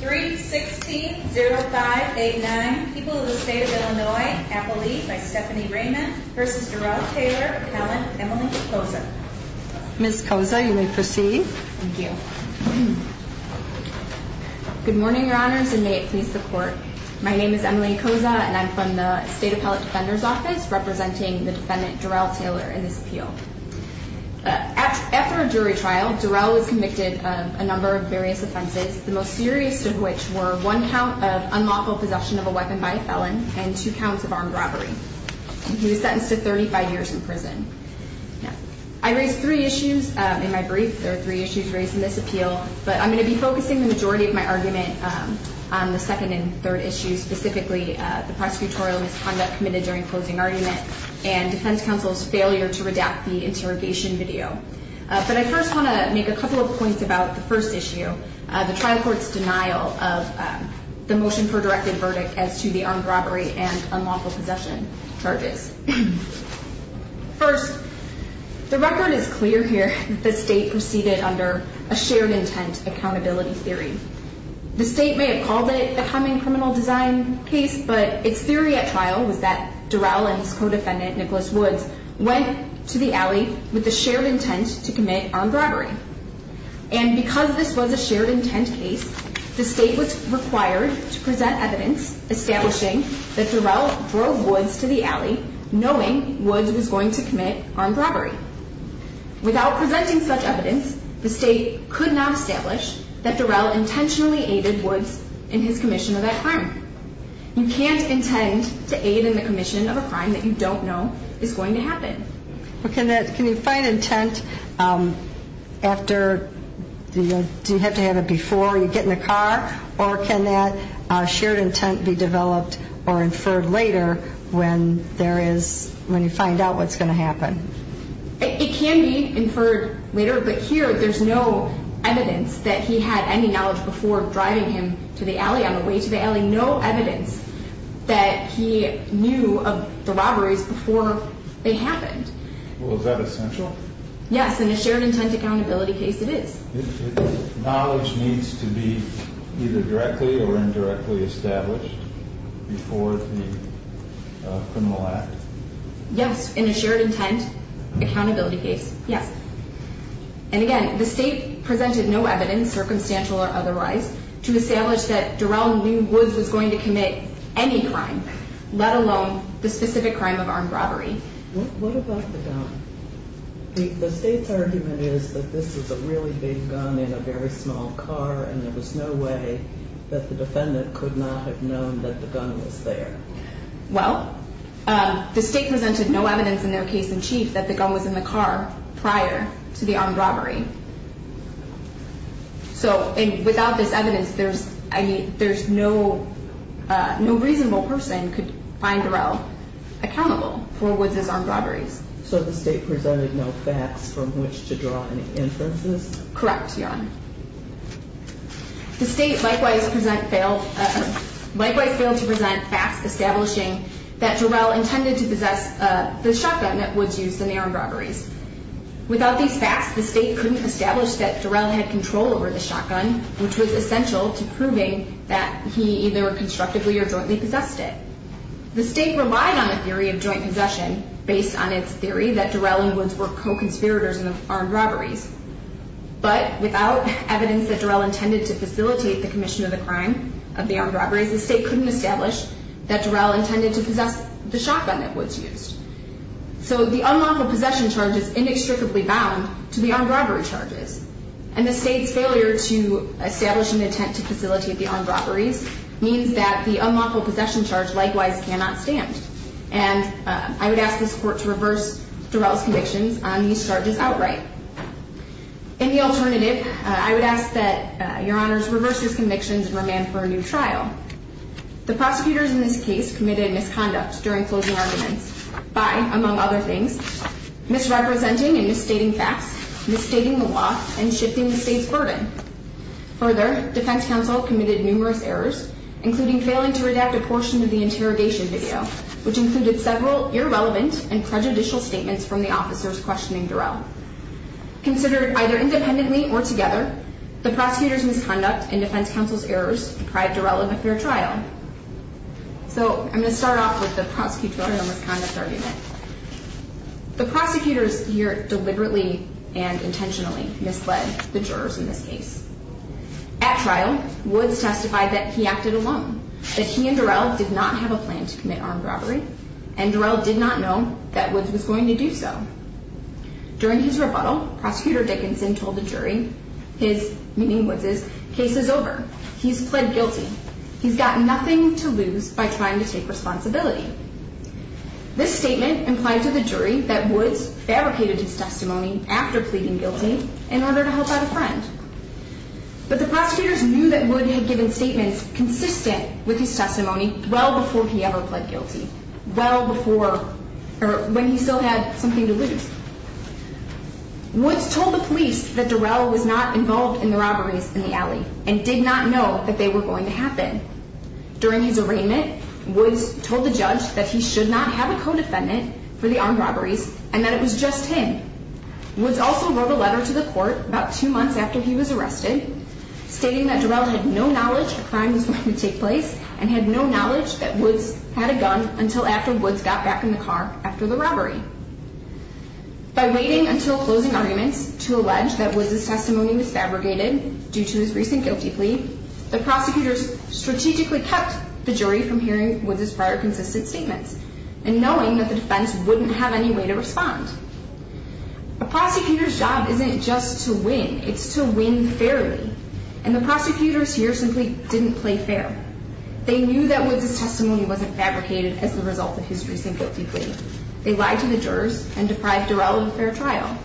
3-6-0-5-8-9 People of the State of Illinois, Appellee by Stephanie Raymond v. Dorell Taylor, Appellant Emily Koza. Ms. Koza, you may proceed. Thank you. Good morning, Your Honors, and may it please the Court. My name is Emily Koza, and I'm from the State Appellate Defender's Office, representing the defendant, Dorell Taylor, in this appeal. After a jury trial, Dorell was convicted of a number of various offenses, the most serious of which were one count of unlawful possession of a weapon by a felon and two counts of armed robbery. He was sentenced to 35 years in prison. I raised three issues in my brief. There are three issues raised in this appeal, but I'm going to be focusing the majority of my argument on the second and third issues, specifically the prosecutorial misconduct committed during closing argument and defense counsel's failure to redact the interrogation video. But I first want to make a couple of points about the first issue, the trial court's denial of the motion for directed verdict as to the armed robbery and unlawful possession charges. First, the record is clear here that the State proceeded under a shared intent accountability theory. The State may have called it the humming criminal design case, but its theory at trial was that Dorell and his co-defendant, Nicholas Woods, went to the alley with the shared intent to commit armed robbery. And because this was a shared intent case, the State was required to present evidence establishing that Dorell drove Woods to the alley knowing Woods was going to commit armed robbery. Without presenting such evidence, the State could not establish that Dorell intentionally aided Woods in his commission of that crime. You can't intend to aid in the commission of a crime that you don't know is going to happen. Well, can that, can you find intent after, do you have to have it before you get in the car? Or can that shared intent be developed or inferred later when there is, when you find out what's going to happen? It can be inferred later, but here there's no evidence that he had any knowledge before driving him to the alley, on the way to the alley, no evidence that he knew of the robberies before they happened. Well, is that essential? Yes, in a shared intent accountability case it is. Knowledge needs to be either directly or indirectly established before the criminal act? Yes, in a shared intent accountability case, yes. And again, the State presented no evidence, circumstantial or otherwise, to establish that Dorell knew Woods was going to commit any crime, let alone the specific crime of armed robbery. What about the gun? The State's argument is that this is a really big gun in a very small car and there was no way that the defendant could not have known that the gun was there. Well, the State presented no evidence in their case in chief that the gun was in the car prior to the armed robbery. So without this evidence, there's no reasonable person could find Dorell accountable for Woods' armed robberies. So the State presented no facts from which to draw any inferences? Correct, Your Honor. The State likewise failed to present facts establishing that Dorell intended to possess the shotgun that Woods used in the armed robberies. Without these facts, the State couldn't establish that Dorell had control over the shotgun, which was essential to proving that he either constructively or jointly possessed it. The State relied on the theory of joint possession based on its theory that Dorell and Woods were co-conspirators in the armed robberies. But without evidence that Dorell intended to facilitate the commission of the crime of the armed robberies, the State couldn't establish that Dorell intended to possess the shotgun that Woods used. So the unlawful possession charge is inextricably bound to the armed robbery charges. And the State's failure to establish an intent to facilitate the armed robberies means that the unlawful possession charge likewise cannot stand. And I would ask this Court to reverse Dorell's convictions on these charges outright. In the alternative, I would ask that Your Honors reverse these convictions and remand for a new trial. The prosecutors in this case committed misconduct during closing arguments by, among other things, misrepresenting and misstating facts, misstating the law, and shifting the State's burden. Further, defense counsel committed numerous errors, including failing to redact a portion of the interrogation video, which included several irrelevant and prejudicial statements from the officers questioning Dorell. Considered either independently or together, the prosecutors' misconduct and defense counsel's errors deprived Dorell of a fair trial. So I'm going to start off with the prosecutorial misconduct argument. The prosecutors here deliberately and intentionally misled the jurors in this case. At trial, Woods testified that he acted alone, that he and Dorell did not have a plan to commit armed robbery, and Dorell did not know that Woods was going to do so. During his rebuttal, Prosecutor Dickinson told the jury his, meaning Woods' case is over. He's pled guilty. He's got nothing to lose by trying to take responsibility. This statement implied to the jury that Woods fabricated his testimony after pleading guilty in order to help out a friend. But the prosecutors knew that Woods had given statements consistent with his testimony well before he ever pled guilty, when he still had something to lose. Woods told the police that Dorell was not involved in the robberies in the alley and did not know that they were going to happen. During his arraignment, Woods told the judge that he should not have a co-defendant for the armed robberies and that it was just him. Woods also wrote a letter to the court about two months after he was arrested stating that Dorell had no knowledge a crime was going to take place and had no knowledge that Woods had a gun until after Woods got back in the car after the robbery. By waiting until closing arguments to allege that Woods' testimony was fabricated due to his recent guilty plea, the prosecutors strategically kept the jury from hearing Woods' prior consistent statements and knowing that the defense wouldn't have any way to respond. A prosecutor's job isn't just to win. It's to win fairly, and the prosecutors here simply didn't play fair. They knew that Woods' testimony wasn't fabricated as a result of his recent guilty plea. They lied to the jurors and deprived Dorell of a fair trial.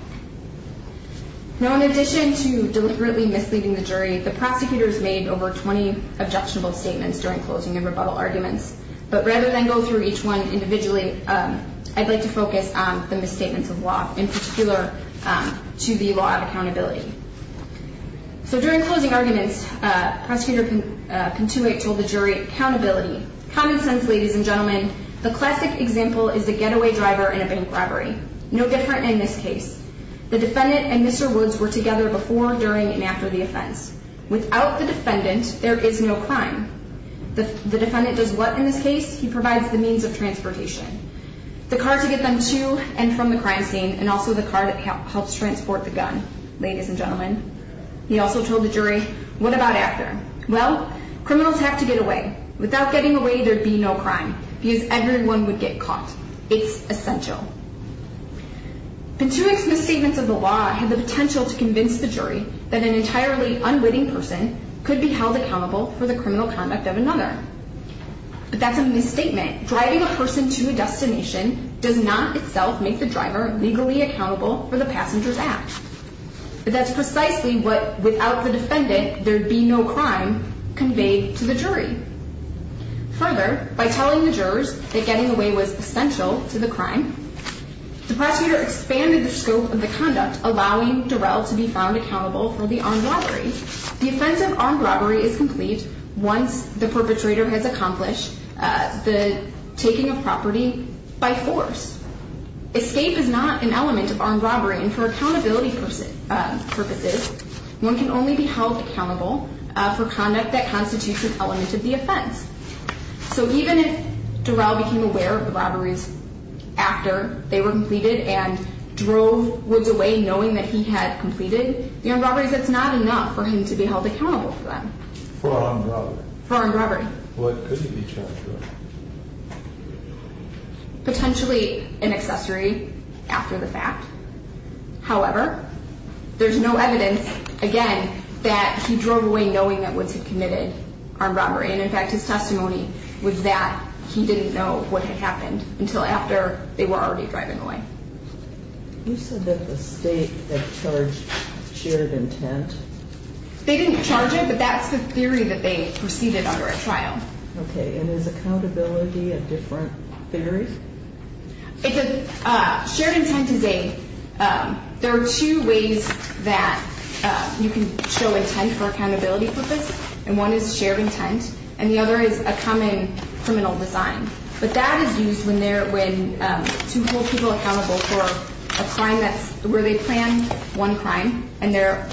Now, in addition to deliberately misleading the jury, the prosecutors made over 20 objectionable statements during closing and rebuttal arguments, but rather than go through each one individually, I'd like to focus on the misstatements of law, in particular to the law of accountability. So during closing arguments, Prosecutor Pintoit told the jury, Accountability. Common sense, ladies and gentlemen. The classic example is the getaway driver in a bank robbery. No different in this case. The defendant and Mr. Woods were together before, during, and after the offense. Without the defendant, there is no crime. The defendant does what in this case? He provides the means of transportation. The car to get them to and from the crime scene, and also the car that helps transport the gun, ladies and gentlemen. He also told the jury, what about after? Well, criminals have to get away. Without getting away, there'd be no crime, because everyone would get caught. It's essential. Pintoit's misstatements of the law had the potential to convince the jury that an entirely unwitting person could be held accountable for the criminal conduct of another. But that's a misstatement. Driving a person to a destination does not itself make the driver legally accountable for the passenger's act. But that's precisely what, without the defendant, there'd be no crime conveyed to the jury. Further, by telling the jurors that getting away was essential to the crime, the prosecutor expanded the scope of the conduct, allowing Durrell to be found accountable for the armed robbery. The offense of armed robbery is complete once the perpetrator has accomplished the taking of property by force. Escape is not an element of armed robbery, and for accountability purposes, one can only be held accountable for conduct that constitutes an element of the offense. So even if Durrell became aware of the robberies after they were completed and drove Woods away knowing that he had completed the armed robberies, that's not enough for him to be held accountable for them. For armed robbery? For armed robbery. What could he be charged with? Potentially an accessory after the fact. However, there's no evidence, again, that he drove away knowing that Woods had committed armed robbery. And in fact, his testimony was that he didn't know what had happened until after they were already driving away. You said that the state had charged shared intent. They didn't charge it, but that's the theory that they proceeded under at trial. Okay, and is accountability a different theory? Shared intent is a – there are two ways that you can show intent for accountability purposes, and one is shared intent, and the other is a common criminal design. But that is used to hold people accountable for a crime where they planned one crime and their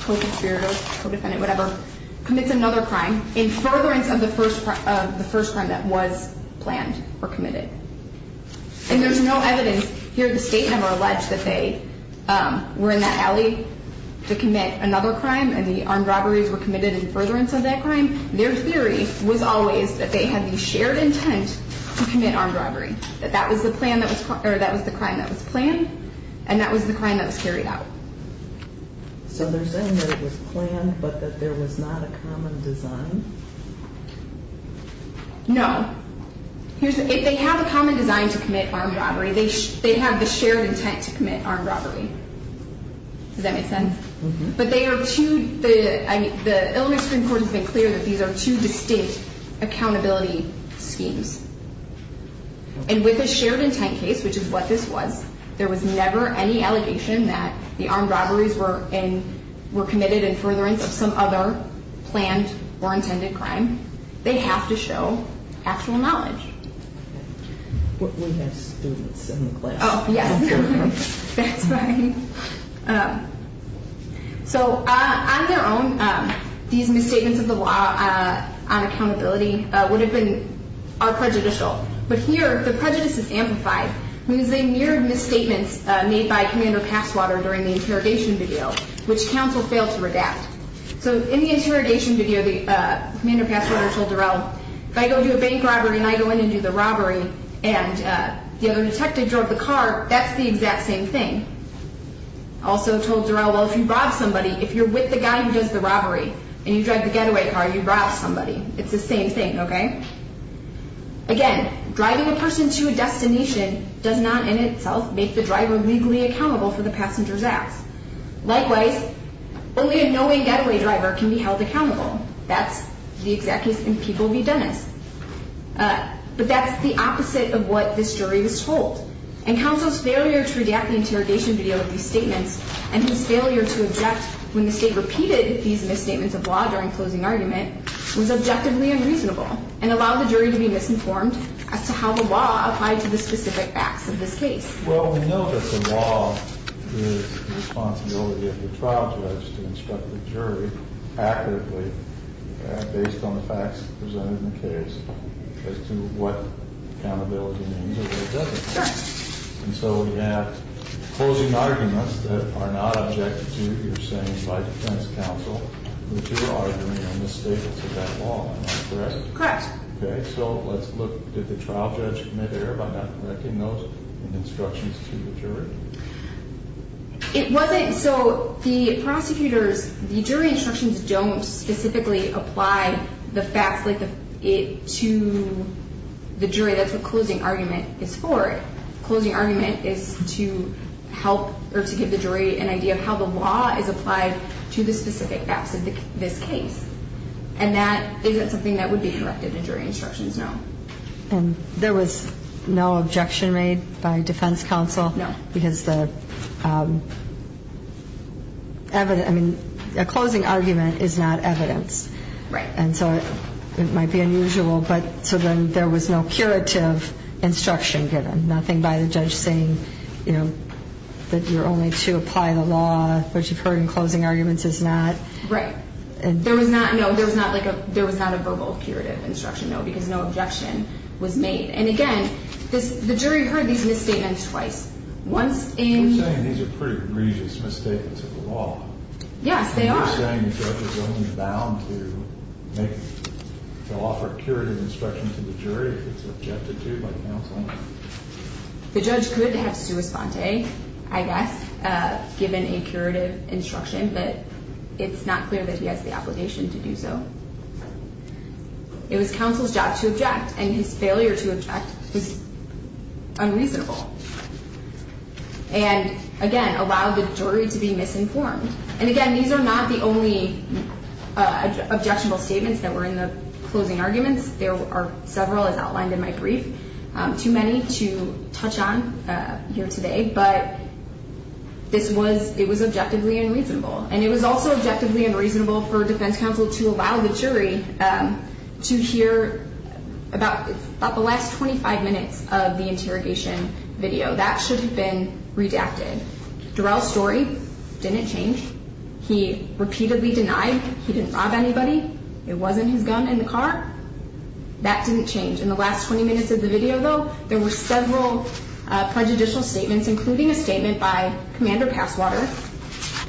co-conspirator, co-defendant, whatever, commits another crime in furtherance of the first crime that was planned or committed. And there's no evidence here. The state never alleged that they were in that alley to commit another crime and the armed robberies were committed in furtherance of that crime. Their theory was always that they had the shared intent to commit armed robbery, that that was the plan that was – or that was the crime that was planned, and that was the crime that was carried out. So they're saying that it was planned but that there was not a common design? No. If they have a common design to commit armed robbery, they have the shared intent to commit armed robbery. Does that make sense? Mm-hmm. But they are two – the Illinois Supreme Court has made clear that these are two distinct accountability schemes. And with a shared intent case, which is what this was, there was never any allegation that the armed robberies were in – were committed in furtherance of some other planned or intended crime. They have to show actual knowledge. But we have students in the class. Oh, yes. That's right. So on their own, these misstatements of the law on accountability would have been – are prejudicial. But here, the prejudice is amplified. It means they mirrored misstatements made by Commander Passwater during the interrogation video, which counsel failed to redact. So in the interrogation video, the – Commander Passwater told Durrell, if I go do a bank robbery and I go in and do the robbery and the other detective drove the car, that's the exact same thing. Also told Durrell, well, if you rob somebody, if you're with the guy who does the robbery and you drive the getaway car, you rob somebody. It's the same thing, okay? Again, driving a person to a destination does not in itself make the driver legally accountable for the passenger's acts. Likewise, only a knowing getaway driver can be held accountable. That's the exact case in People v. Dennis. But that's the opposite of what this jury was told. And counsel's failure to redact the interrogation video of these statements and his failure to object when the state repeated these misstatements of law during closing argument was objectively unreasonable and allowed the jury to be misinformed as to how the law applied to the specific facts of this case. Well, we know that the law is the responsibility of the trial judge to instruct the jury accurately based on the facts presented in the case as to what accountability means or what it doesn't mean. Sure. And so we have closing arguments that are not objective to, you're saying, by defense counsel. The two are arguing a misstatement of that law, am I correct? Correct. Okay, so let's look. Did the trial judge make error by not correcting those instructions to the jury? It wasn't. So the jury instructions don't specifically apply the facts to the jury. That's what closing argument is for. Closing argument is to give the jury an idea of how the law is applied to the specific facts of this case. And is that something that would be corrected in jury instructions? No. And there was no objection made by defense counsel? No. Because a closing argument is not evidence. Right. And so it might be unusual. So then there was no curative instruction given, nothing by the judge saying that you're only to apply the law, which you've heard in closing arguments is not. Right. No, there was not a verbal curative instruction, no, because no objection was made. And, again, the jury heard these misstatements twice. I'm saying these are pretty egregious misstatements of the law. Yes, they are. You're saying the judge is only bound to offer curative instruction to the jury if it's objected to by counsel? The judge could have sua sponte, I guess, given a curative instruction, but it's not clear that he has the obligation to do so. It was counsel's job to object, and his failure to object was unreasonable. And, again, allowed the jury to be misinformed. And, again, these are not the only objectionable statements that were in the closing arguments. There are several, as outlined in my brief, too many to touch on here today, but it was objectively unreasonable. And it was also objectively unreasonable for defense counsel to allow the jury to hear about the last 25 minutes of the interrogation video. That should have been redacted. Durrell's story didn't change. He repeatedly denied he didn't rob anybody. It wasn't his gun in the car. That didn't change. In the last 20 minutes of the video, though, there were several prejudicial statements, including a statement by Commander Passwater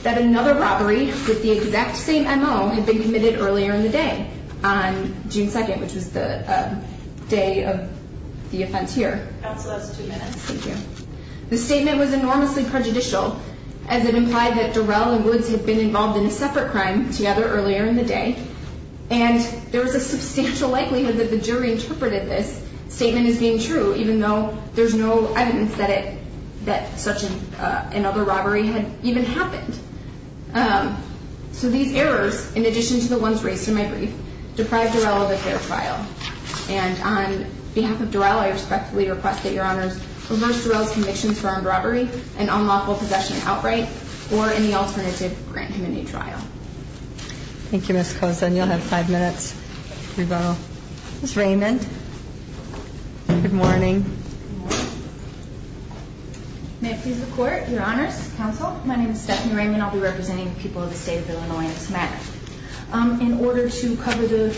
that another robbery with the exact same M.O. had been committed earlier in the day on June 2nd, which was the day of the offense here. Counsel has two minutes. Thank you. The statement was enormously prejudicial as it implied that Durrell and Woods had been involved in a separate crime together earlier in the day, and there was a substantial likelihood that the jury interpreted this statement as being true, even though there's no evidence that such another robbery had even happened. So these errors, in addition to the ones raised in my brief, deprived Durrell of a fair trial. And on behalf of Durrell, I respectfully request that Your Honors reverse Durrell's convictions for armed robbery and unlawful possession outright or any alternative grand community trial. Thank you, Ms. Cozen. You'll have five minutes to go. Ms. Raymond, good morning. Good morning. May it please the Court, Your Honors, Counsel, my name is Stephanie Raymond. I'll be representing the people of the State of Illinois in this matter. In order to cover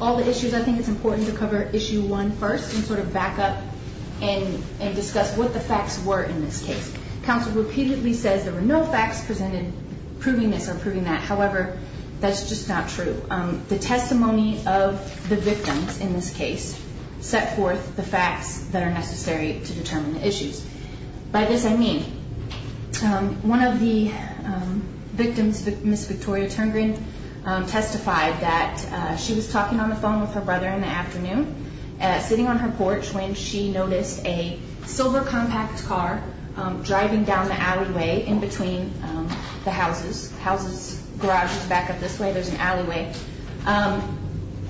all the issues, I think it's important to cover Issue 1 first and sort of back up and discuss what the facts were in this case. Counsel repeatedly says there were no facts presented proving this or proving that. However, that's just not true. The testimony of the victims in this case set forth the facts that are necessary to determine the issues. By this I mean one of the victims, Ms. Victoria Turngreen, testified that she was talking on the phone with her brother in the afternoon, sitting on her porch when she noticed a silver compact car driving down the alleyway in between the houses. Houses, garages back up this way, there's an alleyway.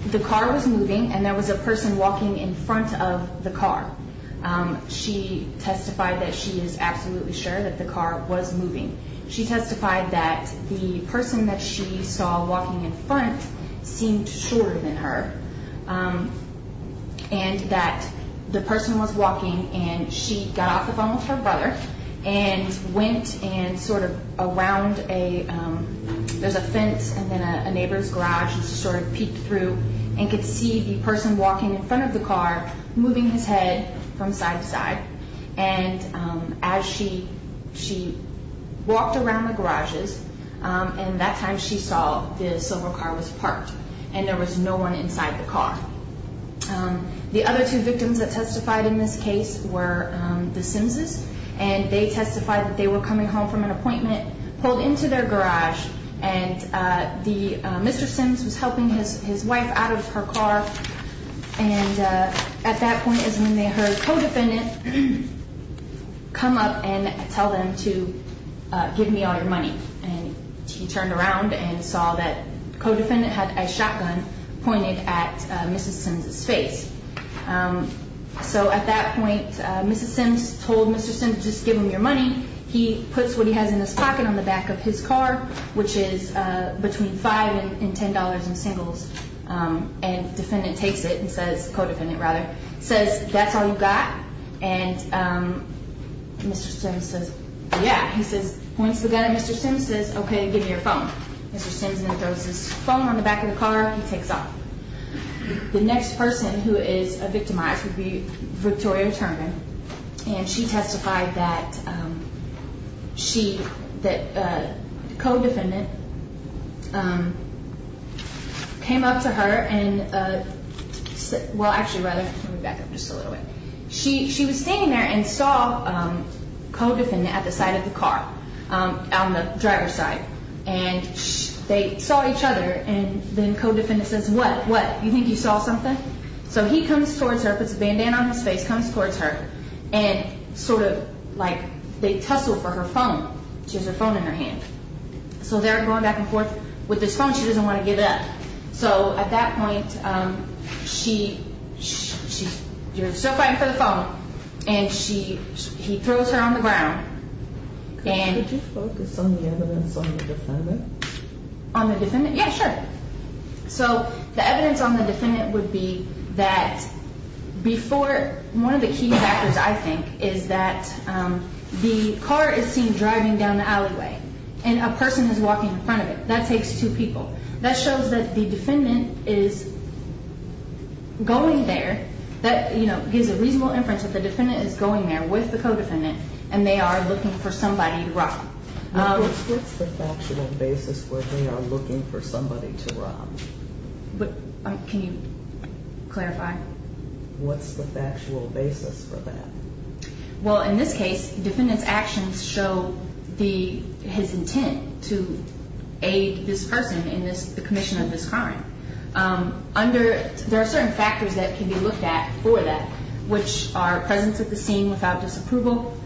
The car was moving and there was a person walking in front of the car. She testified that she is absolutely sure that the car was moving. She testified that the person that she saw walking in front seemed shorter than her. And that the person was walking and she got off the phone with her brother and went and sort of around a, there's a fence and then a neighbor's garage and sort of peeked through and could see the person walking in front of the car, moving his head from side to side. And as she walked around the garages, and that time she saw the silver car was parked and there was no one inside the car. The other two victims that testified in this case were the Sims' and they testified that they were coming home from an appointment, pulled into their garage and the, Mr. Sims was helping his wife out of her car and at that point is when they heard a co-defendant come up and tell them to give me all your money. And he turned around and saw that the co-defendant had a shotgun pointed at Mrs. Sims' face. So at that point, Mrs. Sims told Mr. Sims to just give him your money. He puts what he has in his pocket on the back of his car, which is between $5 and $10 in singles. And the defendant takes it and says, the co-defendant rather, says, that's all you got? And Mr. Sims says, yeah. He points the gun at Mr. Sims and says, okay, give me your phone. Mr. Sims then throws his phone on the back of the car and he takes off. The next person who is victimized would be Victoria Terman and she testified that she, that the co-defendant came up to her and, well actually rather, let me back up just a little bit. She was standing there and saw co-defendant at the side of the car, on the driver's side. And they saw each other and then co-defendant says, what, what, you think you saw something? So he comes towards her, puts a bandana on his face, comes towards her and sort of like they tussle for her phone. She has her phone in her hand. So they're going back and forth with this phone. She doesn't want to give it up. So at that point she, you're still fighting for the phone. And she, he throws her on the ground. Could you focus on the evidence on the defendant? On the defendant? Yeah, sure. So the evidence on the defendant would be that before, one of the key factors I think is that the car is seen driving down the alleyway and a person is walking in front of it. That takes two people. That shows that the defendant is going there. That gives a reasonable inference that the defendant is going there with the co-defendant and they are looking for somebody to rob. What's the factual basis where they are looking for somebody to rob? Can you clarify? What's the factual basis for that? Well, in this case, the defendant's actions show his intent to aid this person in the commission of this crime. There are certain factors that can be looked at for that, which are presence at the scene without disapproval,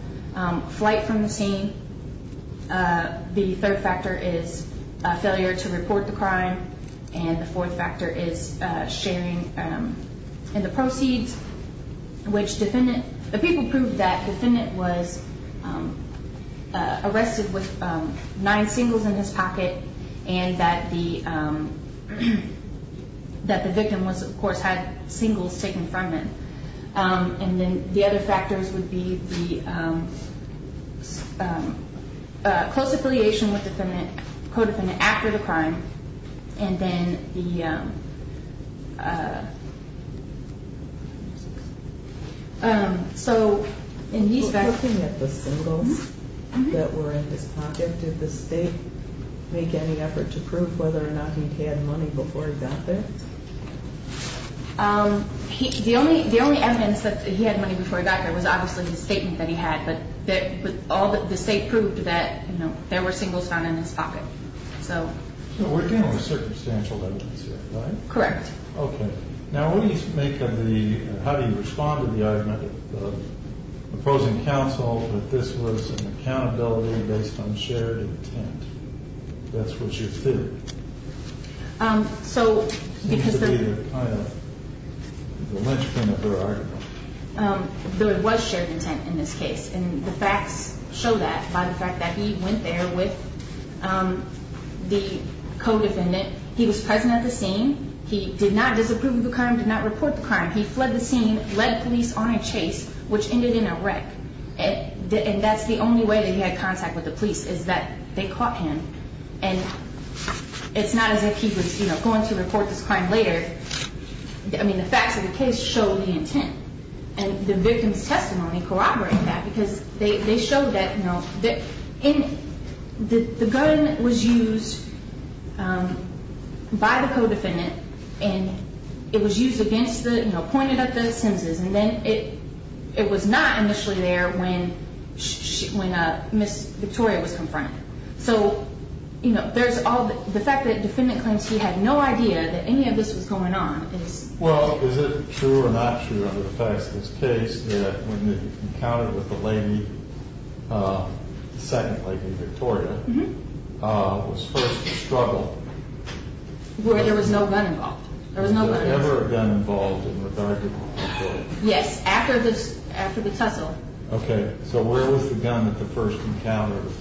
flight from the scene. The third factor is failure to report the crime. And the fourth factor is sharing in the proceeds, which the people proved that the defendant was arrested with nine singles in his pocket and that the victim, of course, had singles taken from him. And then the other factors would be the close affiliation with the co-defendant after the crime and then the… So, in these… Looking at the singles that were in his pocket, did the state make any effort to prove whether or not he had money before he got there? The only evidence that he had money before he got there was obviously the statement that he had, but the state proved that there were singles found in his pocket. So, we're dealing with circumstantial evidence here, right? Correct. Okay. Now, what do you make of the… How do you respond to the argument of the opposing counsel that this was an accountability based on shared intent? That's what you think. So, because the… It seems to be kind of the linchpin of their argument. There was shared intent in this case, and the facts show that by the fact that he went there with the co-defendant. He was present at the scene. He did not disapprove of the crime, did not report the crime. He fled the scene, led police on a chase, which ended in a wreck. And that's the only way that he had contact with the police, is that they caught him. And it's not as if he was going to report this crime later. I mean, the facts of the case show the intent. And the victim's testimony corroborated that because they showed that, you know, the gun was used by the co-defendant, and it was used against the, you know, pointed at the Simpsons, and then it was not initially there when Ms. Victoria was confronted. So, you know, there's all the… The fact that the defendant claims he had no idea that any of this was going on is… Well, is it true or not true, under the facts of this case, that when he encountered with the lady, the second lady, Victoria, was first to struggle? Where there was no gun involved. There was no gun involved. Was there ever a gun involved in the bargain with Victoria? Yes, after the tussle. Okay. So where was the gun at the first encounter with Victoria?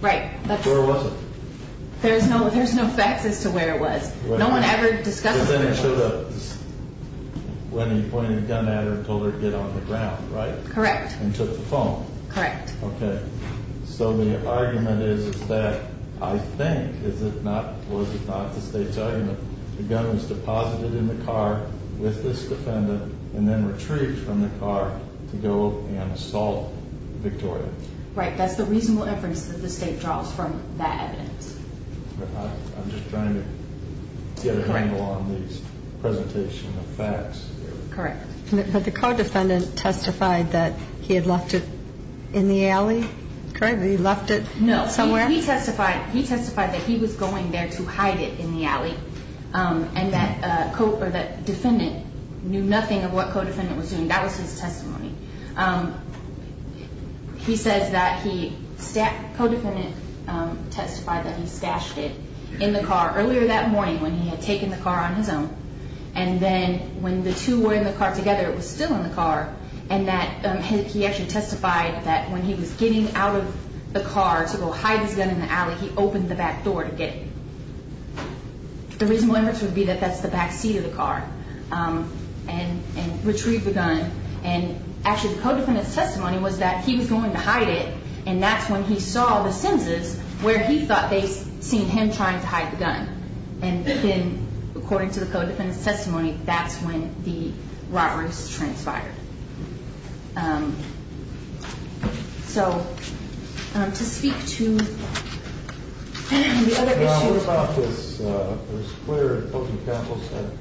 Right. Where was it? There's no facts as to where it was. No one ever discussed it with anyone. But then it showed up when he pointed a gun at her and told her to get on the ground, right? Correct. And took the phone. Correct. Okay. So the argument is that, I think, was it not the State's argument, the gun was deposited in the car with this defendant and then retrieved from the car to go and assault Victoria. Right. That's the reasonable inference that the State draws from that evidence. I'm just trying to get a handle on these presentation of facts. Correct. But the co-defendant testified that he had left it in the alley? Correct. He left it somewhere? No. He testified that he was going there to hide it in the alley and that defendant knew nothing of what co-defendant was doing. That was his testimony. He says that he, co-defendant testified that he stashed it in the car earlier that morning when he had taken the car on his own and then when the two were in the car together, it was still in the car and that he actually testified that when he was getting out of the car to go hide his gun in the alley, he opened the back door to get it. The reasonable inference would be that that's the back seat of the car and retrieved the gun. And actually, the co-defendant's testimony was that he was going to hide it and that's when he saw the Simms' where he thought they'd seen him trying to hide the gun. And then, according to the co-defendant's testimony, that's when the robberies transpired. So, to speak to the other issue. What about this, it was clear, the Oakland Council said,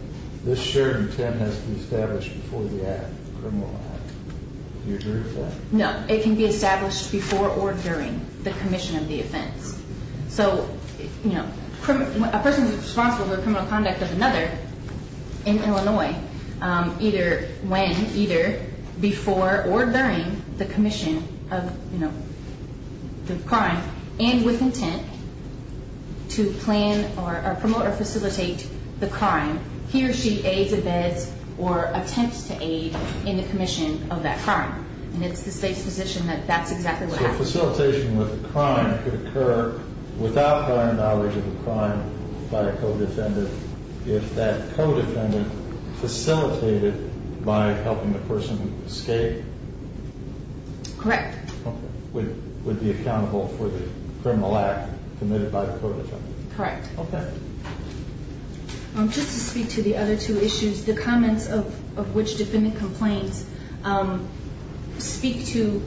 this shared intent has to be established before the act, the criminal act. Do you agree with that? No, it can be established before or during the commission of the offense. So, you know, a person is responsible for the criminal conduct of another in Illinois either when, either before or during the commission of, you know, the crime and with intent to plan or promote or facilitate the crime. He or she aids, abets, or attempts to aid in the commission of that crime. And it's the state's position that that's exactly what happened. So, facilitation with a crime could occur without prior knowledge of the crime by a co-defendant if that co-defendant facilitated by helping the person escape? Correct. Would be accountable for the criminal act committed by the co-defendant? Correct. Okay. Just to speak to the other two issues, the comments of which defendant complains speak to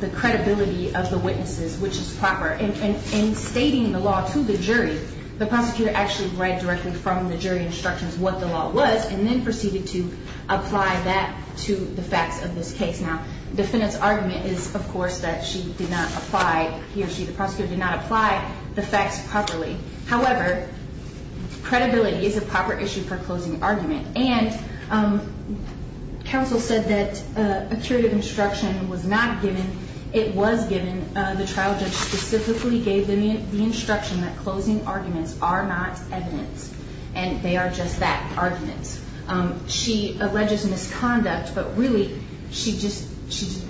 the credibility of the witnesses, which is proper. In stating the law to the jury, the prosecutor actually read directly from the jury instructions what the law was and then proceeded to apply that to the facts of this case. Now, the defendant's argument is, of course, that she did not apply, he or she, the prosecutor did not apply the facts properly. However, credibility is a proper issue for closing argument. And counsel said that a curative instruction was not given. It was given. The trial judge specifically gave the instruction that closing arguments are not evidence and they are just that, arguments. She alleges misconduct, but really she just,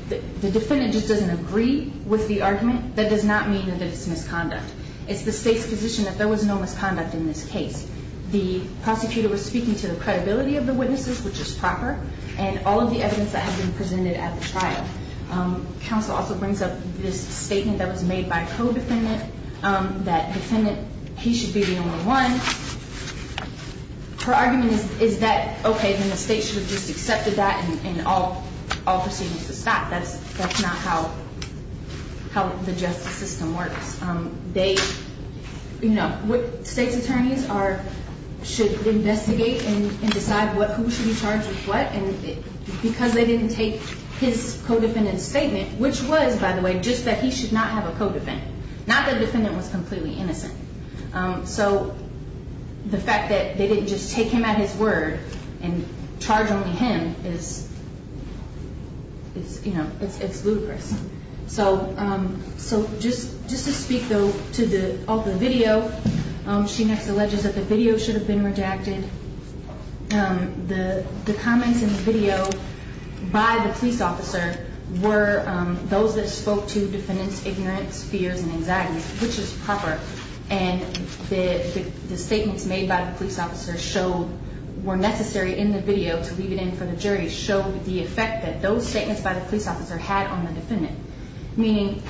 the defendant just doesn't agree with the argument. That does not mean that it's misconduct. It's the state's position that there was no misconduct in this case. The prosecutor was speaking to the credibility of the witnesses, which is proper, and all of the evidence that has been presented at the trial. Counsel also brings up this statement that was made by a co-defendant, that defendant, he should be the only one. Her argument is that, okay, then the state should have just accepted that and all proceedings would stop. That's not how the justice system works. They, you know, state's attorneys should investigate and decide who should be charged with what. And because they didn't take his co-defendant's statement, which was, by the way, just that he should not have a co-defendant, not that the defendant was completely innocent. So the fact that they didn't just take him at his word and charge only him is, you know, it's ludicrous. So just to speak, though, to the video, she next alleges that the video should have been redacted. The comments in the video by the police officer were those that spoke to defendants' ignorance, fears, and anxieties, which is proper. And the statements made by the police officer showed, were necessary in the video, to leave it in for the jury, showed the effect that those statements by the police officer had on the defendant. Meaning,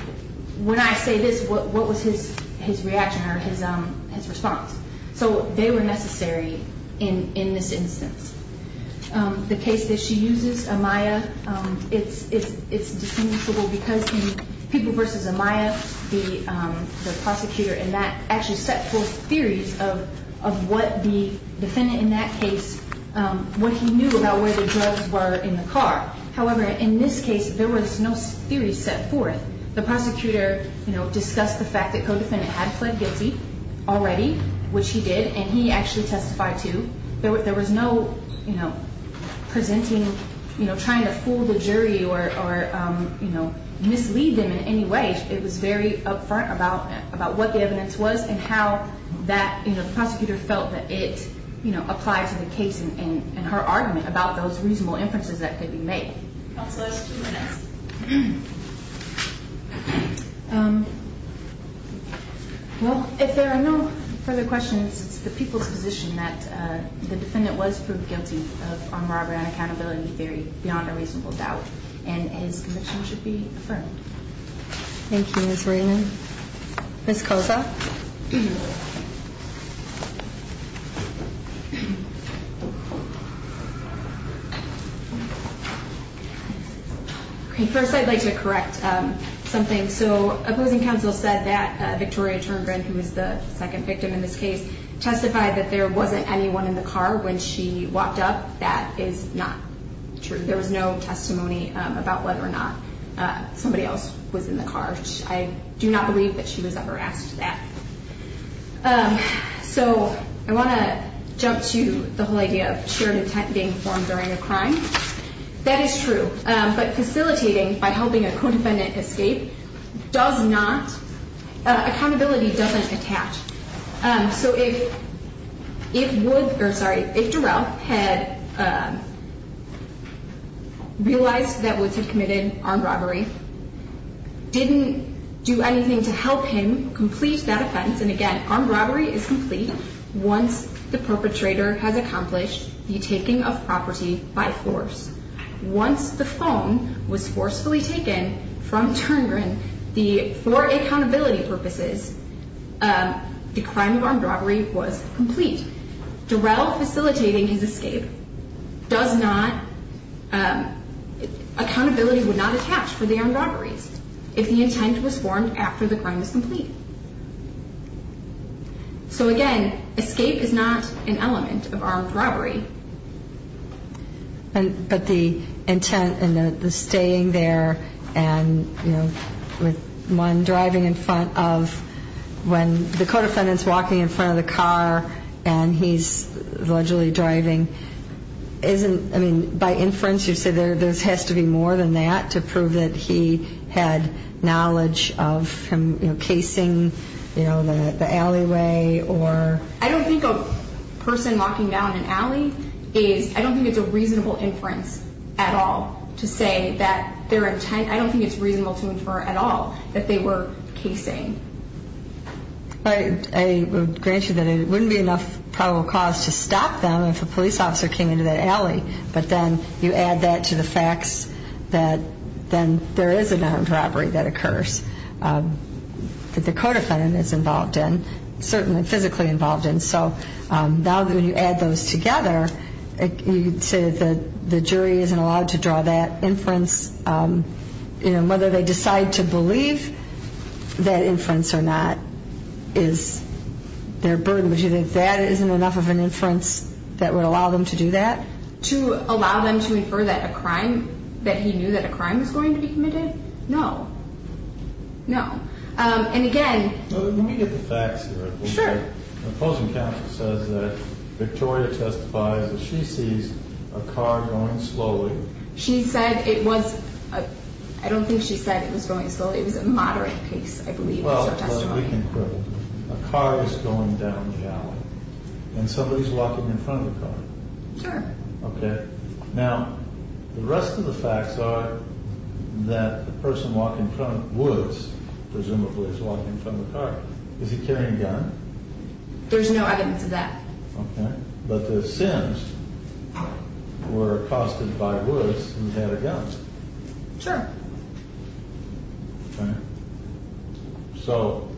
when I say this, what was his reaction or his response? So they were necessary in this instance. The case that she uses, Amaya, it's distinguishable because in People v. Amaya, the prosecutor in that actually set forth theories of what the defendant in that case, what he knew about where the drugs were in the car. However, in this case, there was no theory set forth. The prosecutor, you know, discussed the fact that co-defendant had pled guilty already, which he did, and he actually testified too. There was no, you know, presenting, you know, trying to fool the jury or, you know, mislead them in any way. It was very upfront about what the evidence was and how that, you know, the prosecutor felt that it, you know, applied to the case and her argument about those reasonable inferences that could be made. Counselors, two minutes. Well, if there are no further questions, it's the people's position that the defendant was proved guilty of armed robbery and accountability theory beyond a reasonable doubt, and his conviction should be affirmed. Thank you, Ms. Raymond. Ms. Koza. Ms. Koza. First, I'd like to correct something. So opposing counsel said that Victoria Turngren, who was the second victim in this case, testified that there wasn't anyone in the car when she walked up. That is not true. There was no testimony about whether or not somebody else was in the car. I do not believe that she was ever asked that. So I want to jump to the whole idea of shared intent being formed during a crime. That is true. But facilitating by helping a co-defendant escape does not, accountability doesn't attach. So if Durell had realized that Woods had committed armed robbery, didn't do anything to help him complete that offense, and again, armed robbery is complete once the perpetrator has accomplished the taking of property by force. Once the phone was forcefully taken from Turngren for accountability purposes, the crime of armed robbery was complete. Durell facilitating his escape does not, accountability would not attach for the armed robberies if the intent was formed after the crime was complete. So again, escape is not an element of armed robbery. But the intent and the staying there and, you know, with one driving in front of, when the co-defendant's walking in front of the car and he's allegedly driving, isn't, I mean, by inference you say there has to be more than that to prove that he had knowledge of him, you know, casing, you know, the alleyway or? I don't think a person walking down an alley is, I don't think it's a reasonable inference at all to say that their intent, I don't think it's reasonable to infer at all that they were casing. I would grant you that it wouldn't be enough probable cause to stop them if a police officer came into that alley, but then you add that to the facts that then there is an armed robbery that occurs that the co-defendant is involved in, certainly physically involved in. So now that when you add those together, you say that the jury isn't allowed to draw that inference, you know, whether they decide to believe that inference or not is their burden. Would you think that isn't enough of an inference that would allow them to do that? To allow them to infer that a crime, that he knew that a crime was going to be committed? No. No. And again. Let me get the facts here. Sure. The opposing counsel says that Victoria testifies that she sees a car going slowly. She said it was, I don't think she said it was going slowly. It was a moderate pace, I believe. Well, we can quibble. A car is going down the alley and somebody is walking in front of the car. Sure. Okay. Now, the rest of the facts are that the person walking from Woods presumably is walking from the car. Is he carrying a gun? There's no evidence of that. Okay. But the Sims were accosted by Woods and had a gun. Sure. Okay. So.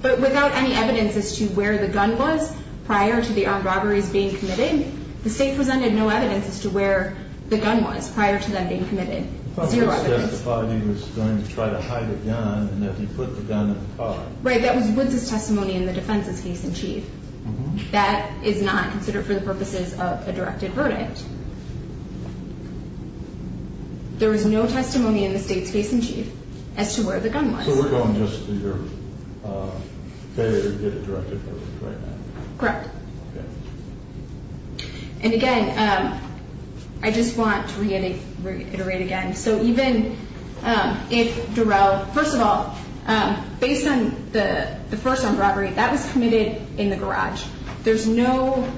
But without any evidence as to where the gun was prior to the armed robberies being committed, the state presented no evidence as to where the gun was prior to them being committed. Zero evidence. But Woods testified he was going to try to hide a gun and that he put the gun in the car. Right. That was Woods' testimony in the defense's case in chief. That is not considered for the purposes of a directed verdict. There was no testimony in the state's case in chief as to where the gun was. So we're going just to your failure to get a directed verdict right now. Correct. Okay. And, again, I just want to reiterate again. So even if Durell, first of all, based on the first armed robbery, that was committed in the garage. There's no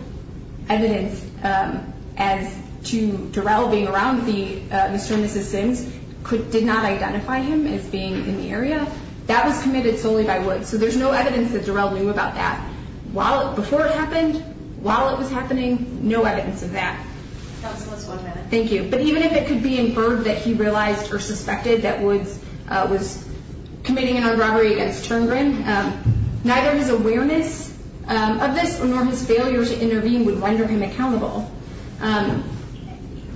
evidence as to Durell being around Mr. and Mrs. Sims did not identify him as being in the area. That was committed solely by Woods. So there's no evidence that Durell knew about that. Before it happened, while it was happening, no evidence of that. Counsel, just one minute. Thank you. But even if it could be inferred that he realized or suspected that Woods was committing an armed robbery against Turngrin, neither his awareness of this nor his failure to intervene would render him accountable.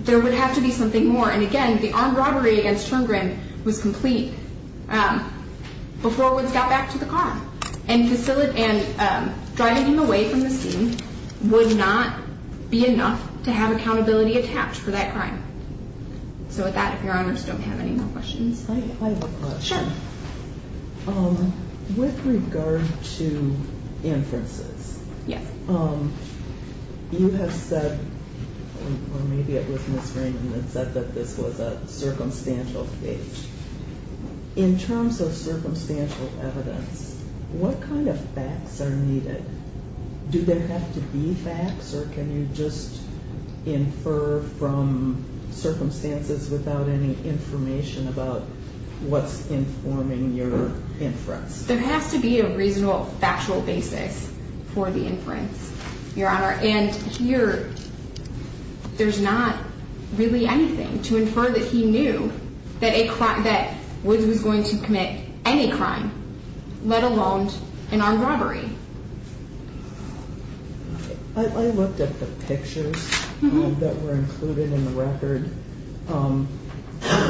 There would have to be something more. And, again, the armed robbery against Turngrin was complete before Woods got back to the car and driving him away from the scene would not be enough to have accountability attached for that crime. So with that, if Your Honors don't have any more questions. I have a question. Sure. With regard to inferences, you have said, or maybe it was Ms. Rankin that said that this was a circumstantial case. In terms of circumstantial evidence, what kind of facts are needed? Do there have to be facts, or can you just infer from circumstances without any information about what's informing your inference? There has to be a reasonable factual basis for the inference, Your Honor. And here, there's not really anything to infer that he knew that Woods was going to commit any crime, let alone an armed robbery. I looked at the pictures that were included in the record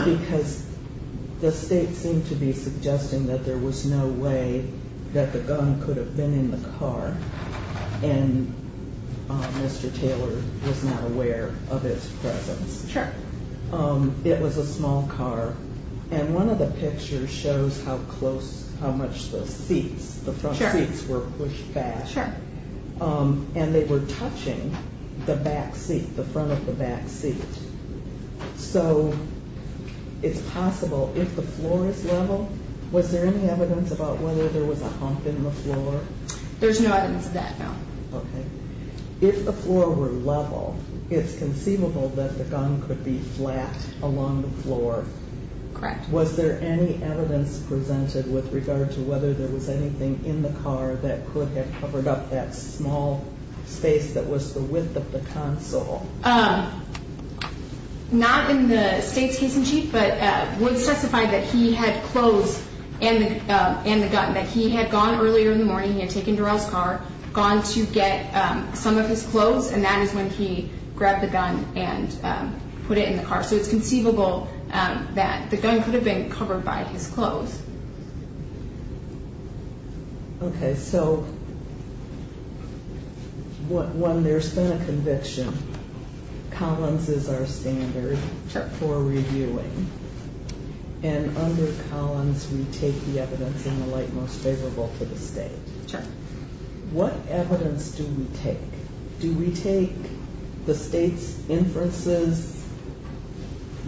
because the state seemed to be suggesting that there was no way that the gun could have been in the car. And Mr. Taylor was not aware of its presence. Sure. It was a small car. And one of the pictures shows how close, how much the seats, the front seats were pushed back. Sure. And they were touching the back seat, the front of the back seat. So it's possible if the floor is level. Was there any evidence about whether there was a hump in the floor? There's no evidence of that, no. Okay. If the floor were level, it's conceivable that the gun could be flat along the floor. Correct. Was there any evidence presented with regard to whether there was anything in the car that could have covered up that small space that was the width of the console? Not in the state's case in chief, but Woods testified that he had clothes and the gun, that he had gone earlier in the morning, he had taken Darrell's car, gone to get some of his clothes, and that is when he grabbed the gun and put it in the car. So it's conceivable that the gun could have been covered by his clothes. Okay. So, one, there's been a conviction. Collins is our standard for reviewing. And under Collins, we take the evidence in the light most favorable to the state. What evidence do we take? Do we take the state's inferences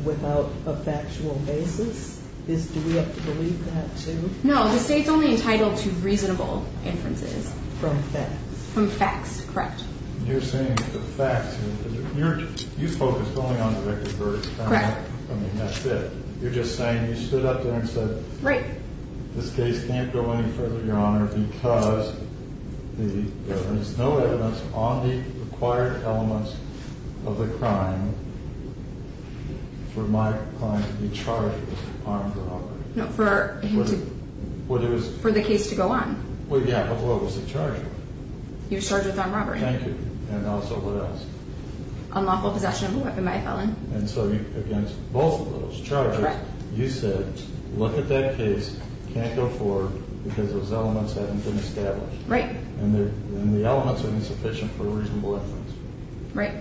without a factual basis? Do we have to believe that, too? No, the state's only entitled to reasonable inferences. From facts. From facts, correct. You're saying from facts. You focused only on the record verdict. Correct. I mean, that's it. You're just saying you stood up there and said this case can't go any further, Your Honor, because there is no evidence on the required elements of the crime for my client to be charged with armed robbery. No, for him to... For the case to go on. Well, yeah, but what was the charge? You were charged with armed robbery. Thank you. And also what else? Unlawful possession of a weapon by a felon. And so against both of those charges, you said, Look at that case. It can't go forward because those elements haven't been established. Right. And the elements are insufficient for a reasonable inference. Right.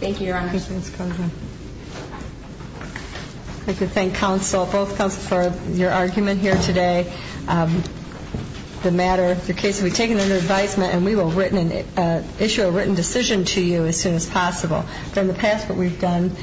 Thank you, Your Honor. I'd like to thank counsel, both counsel, for your argument here today. The matter, the case will be taken under advisement, and we will issue a written decision to you as soon as possible. From the past what we've done...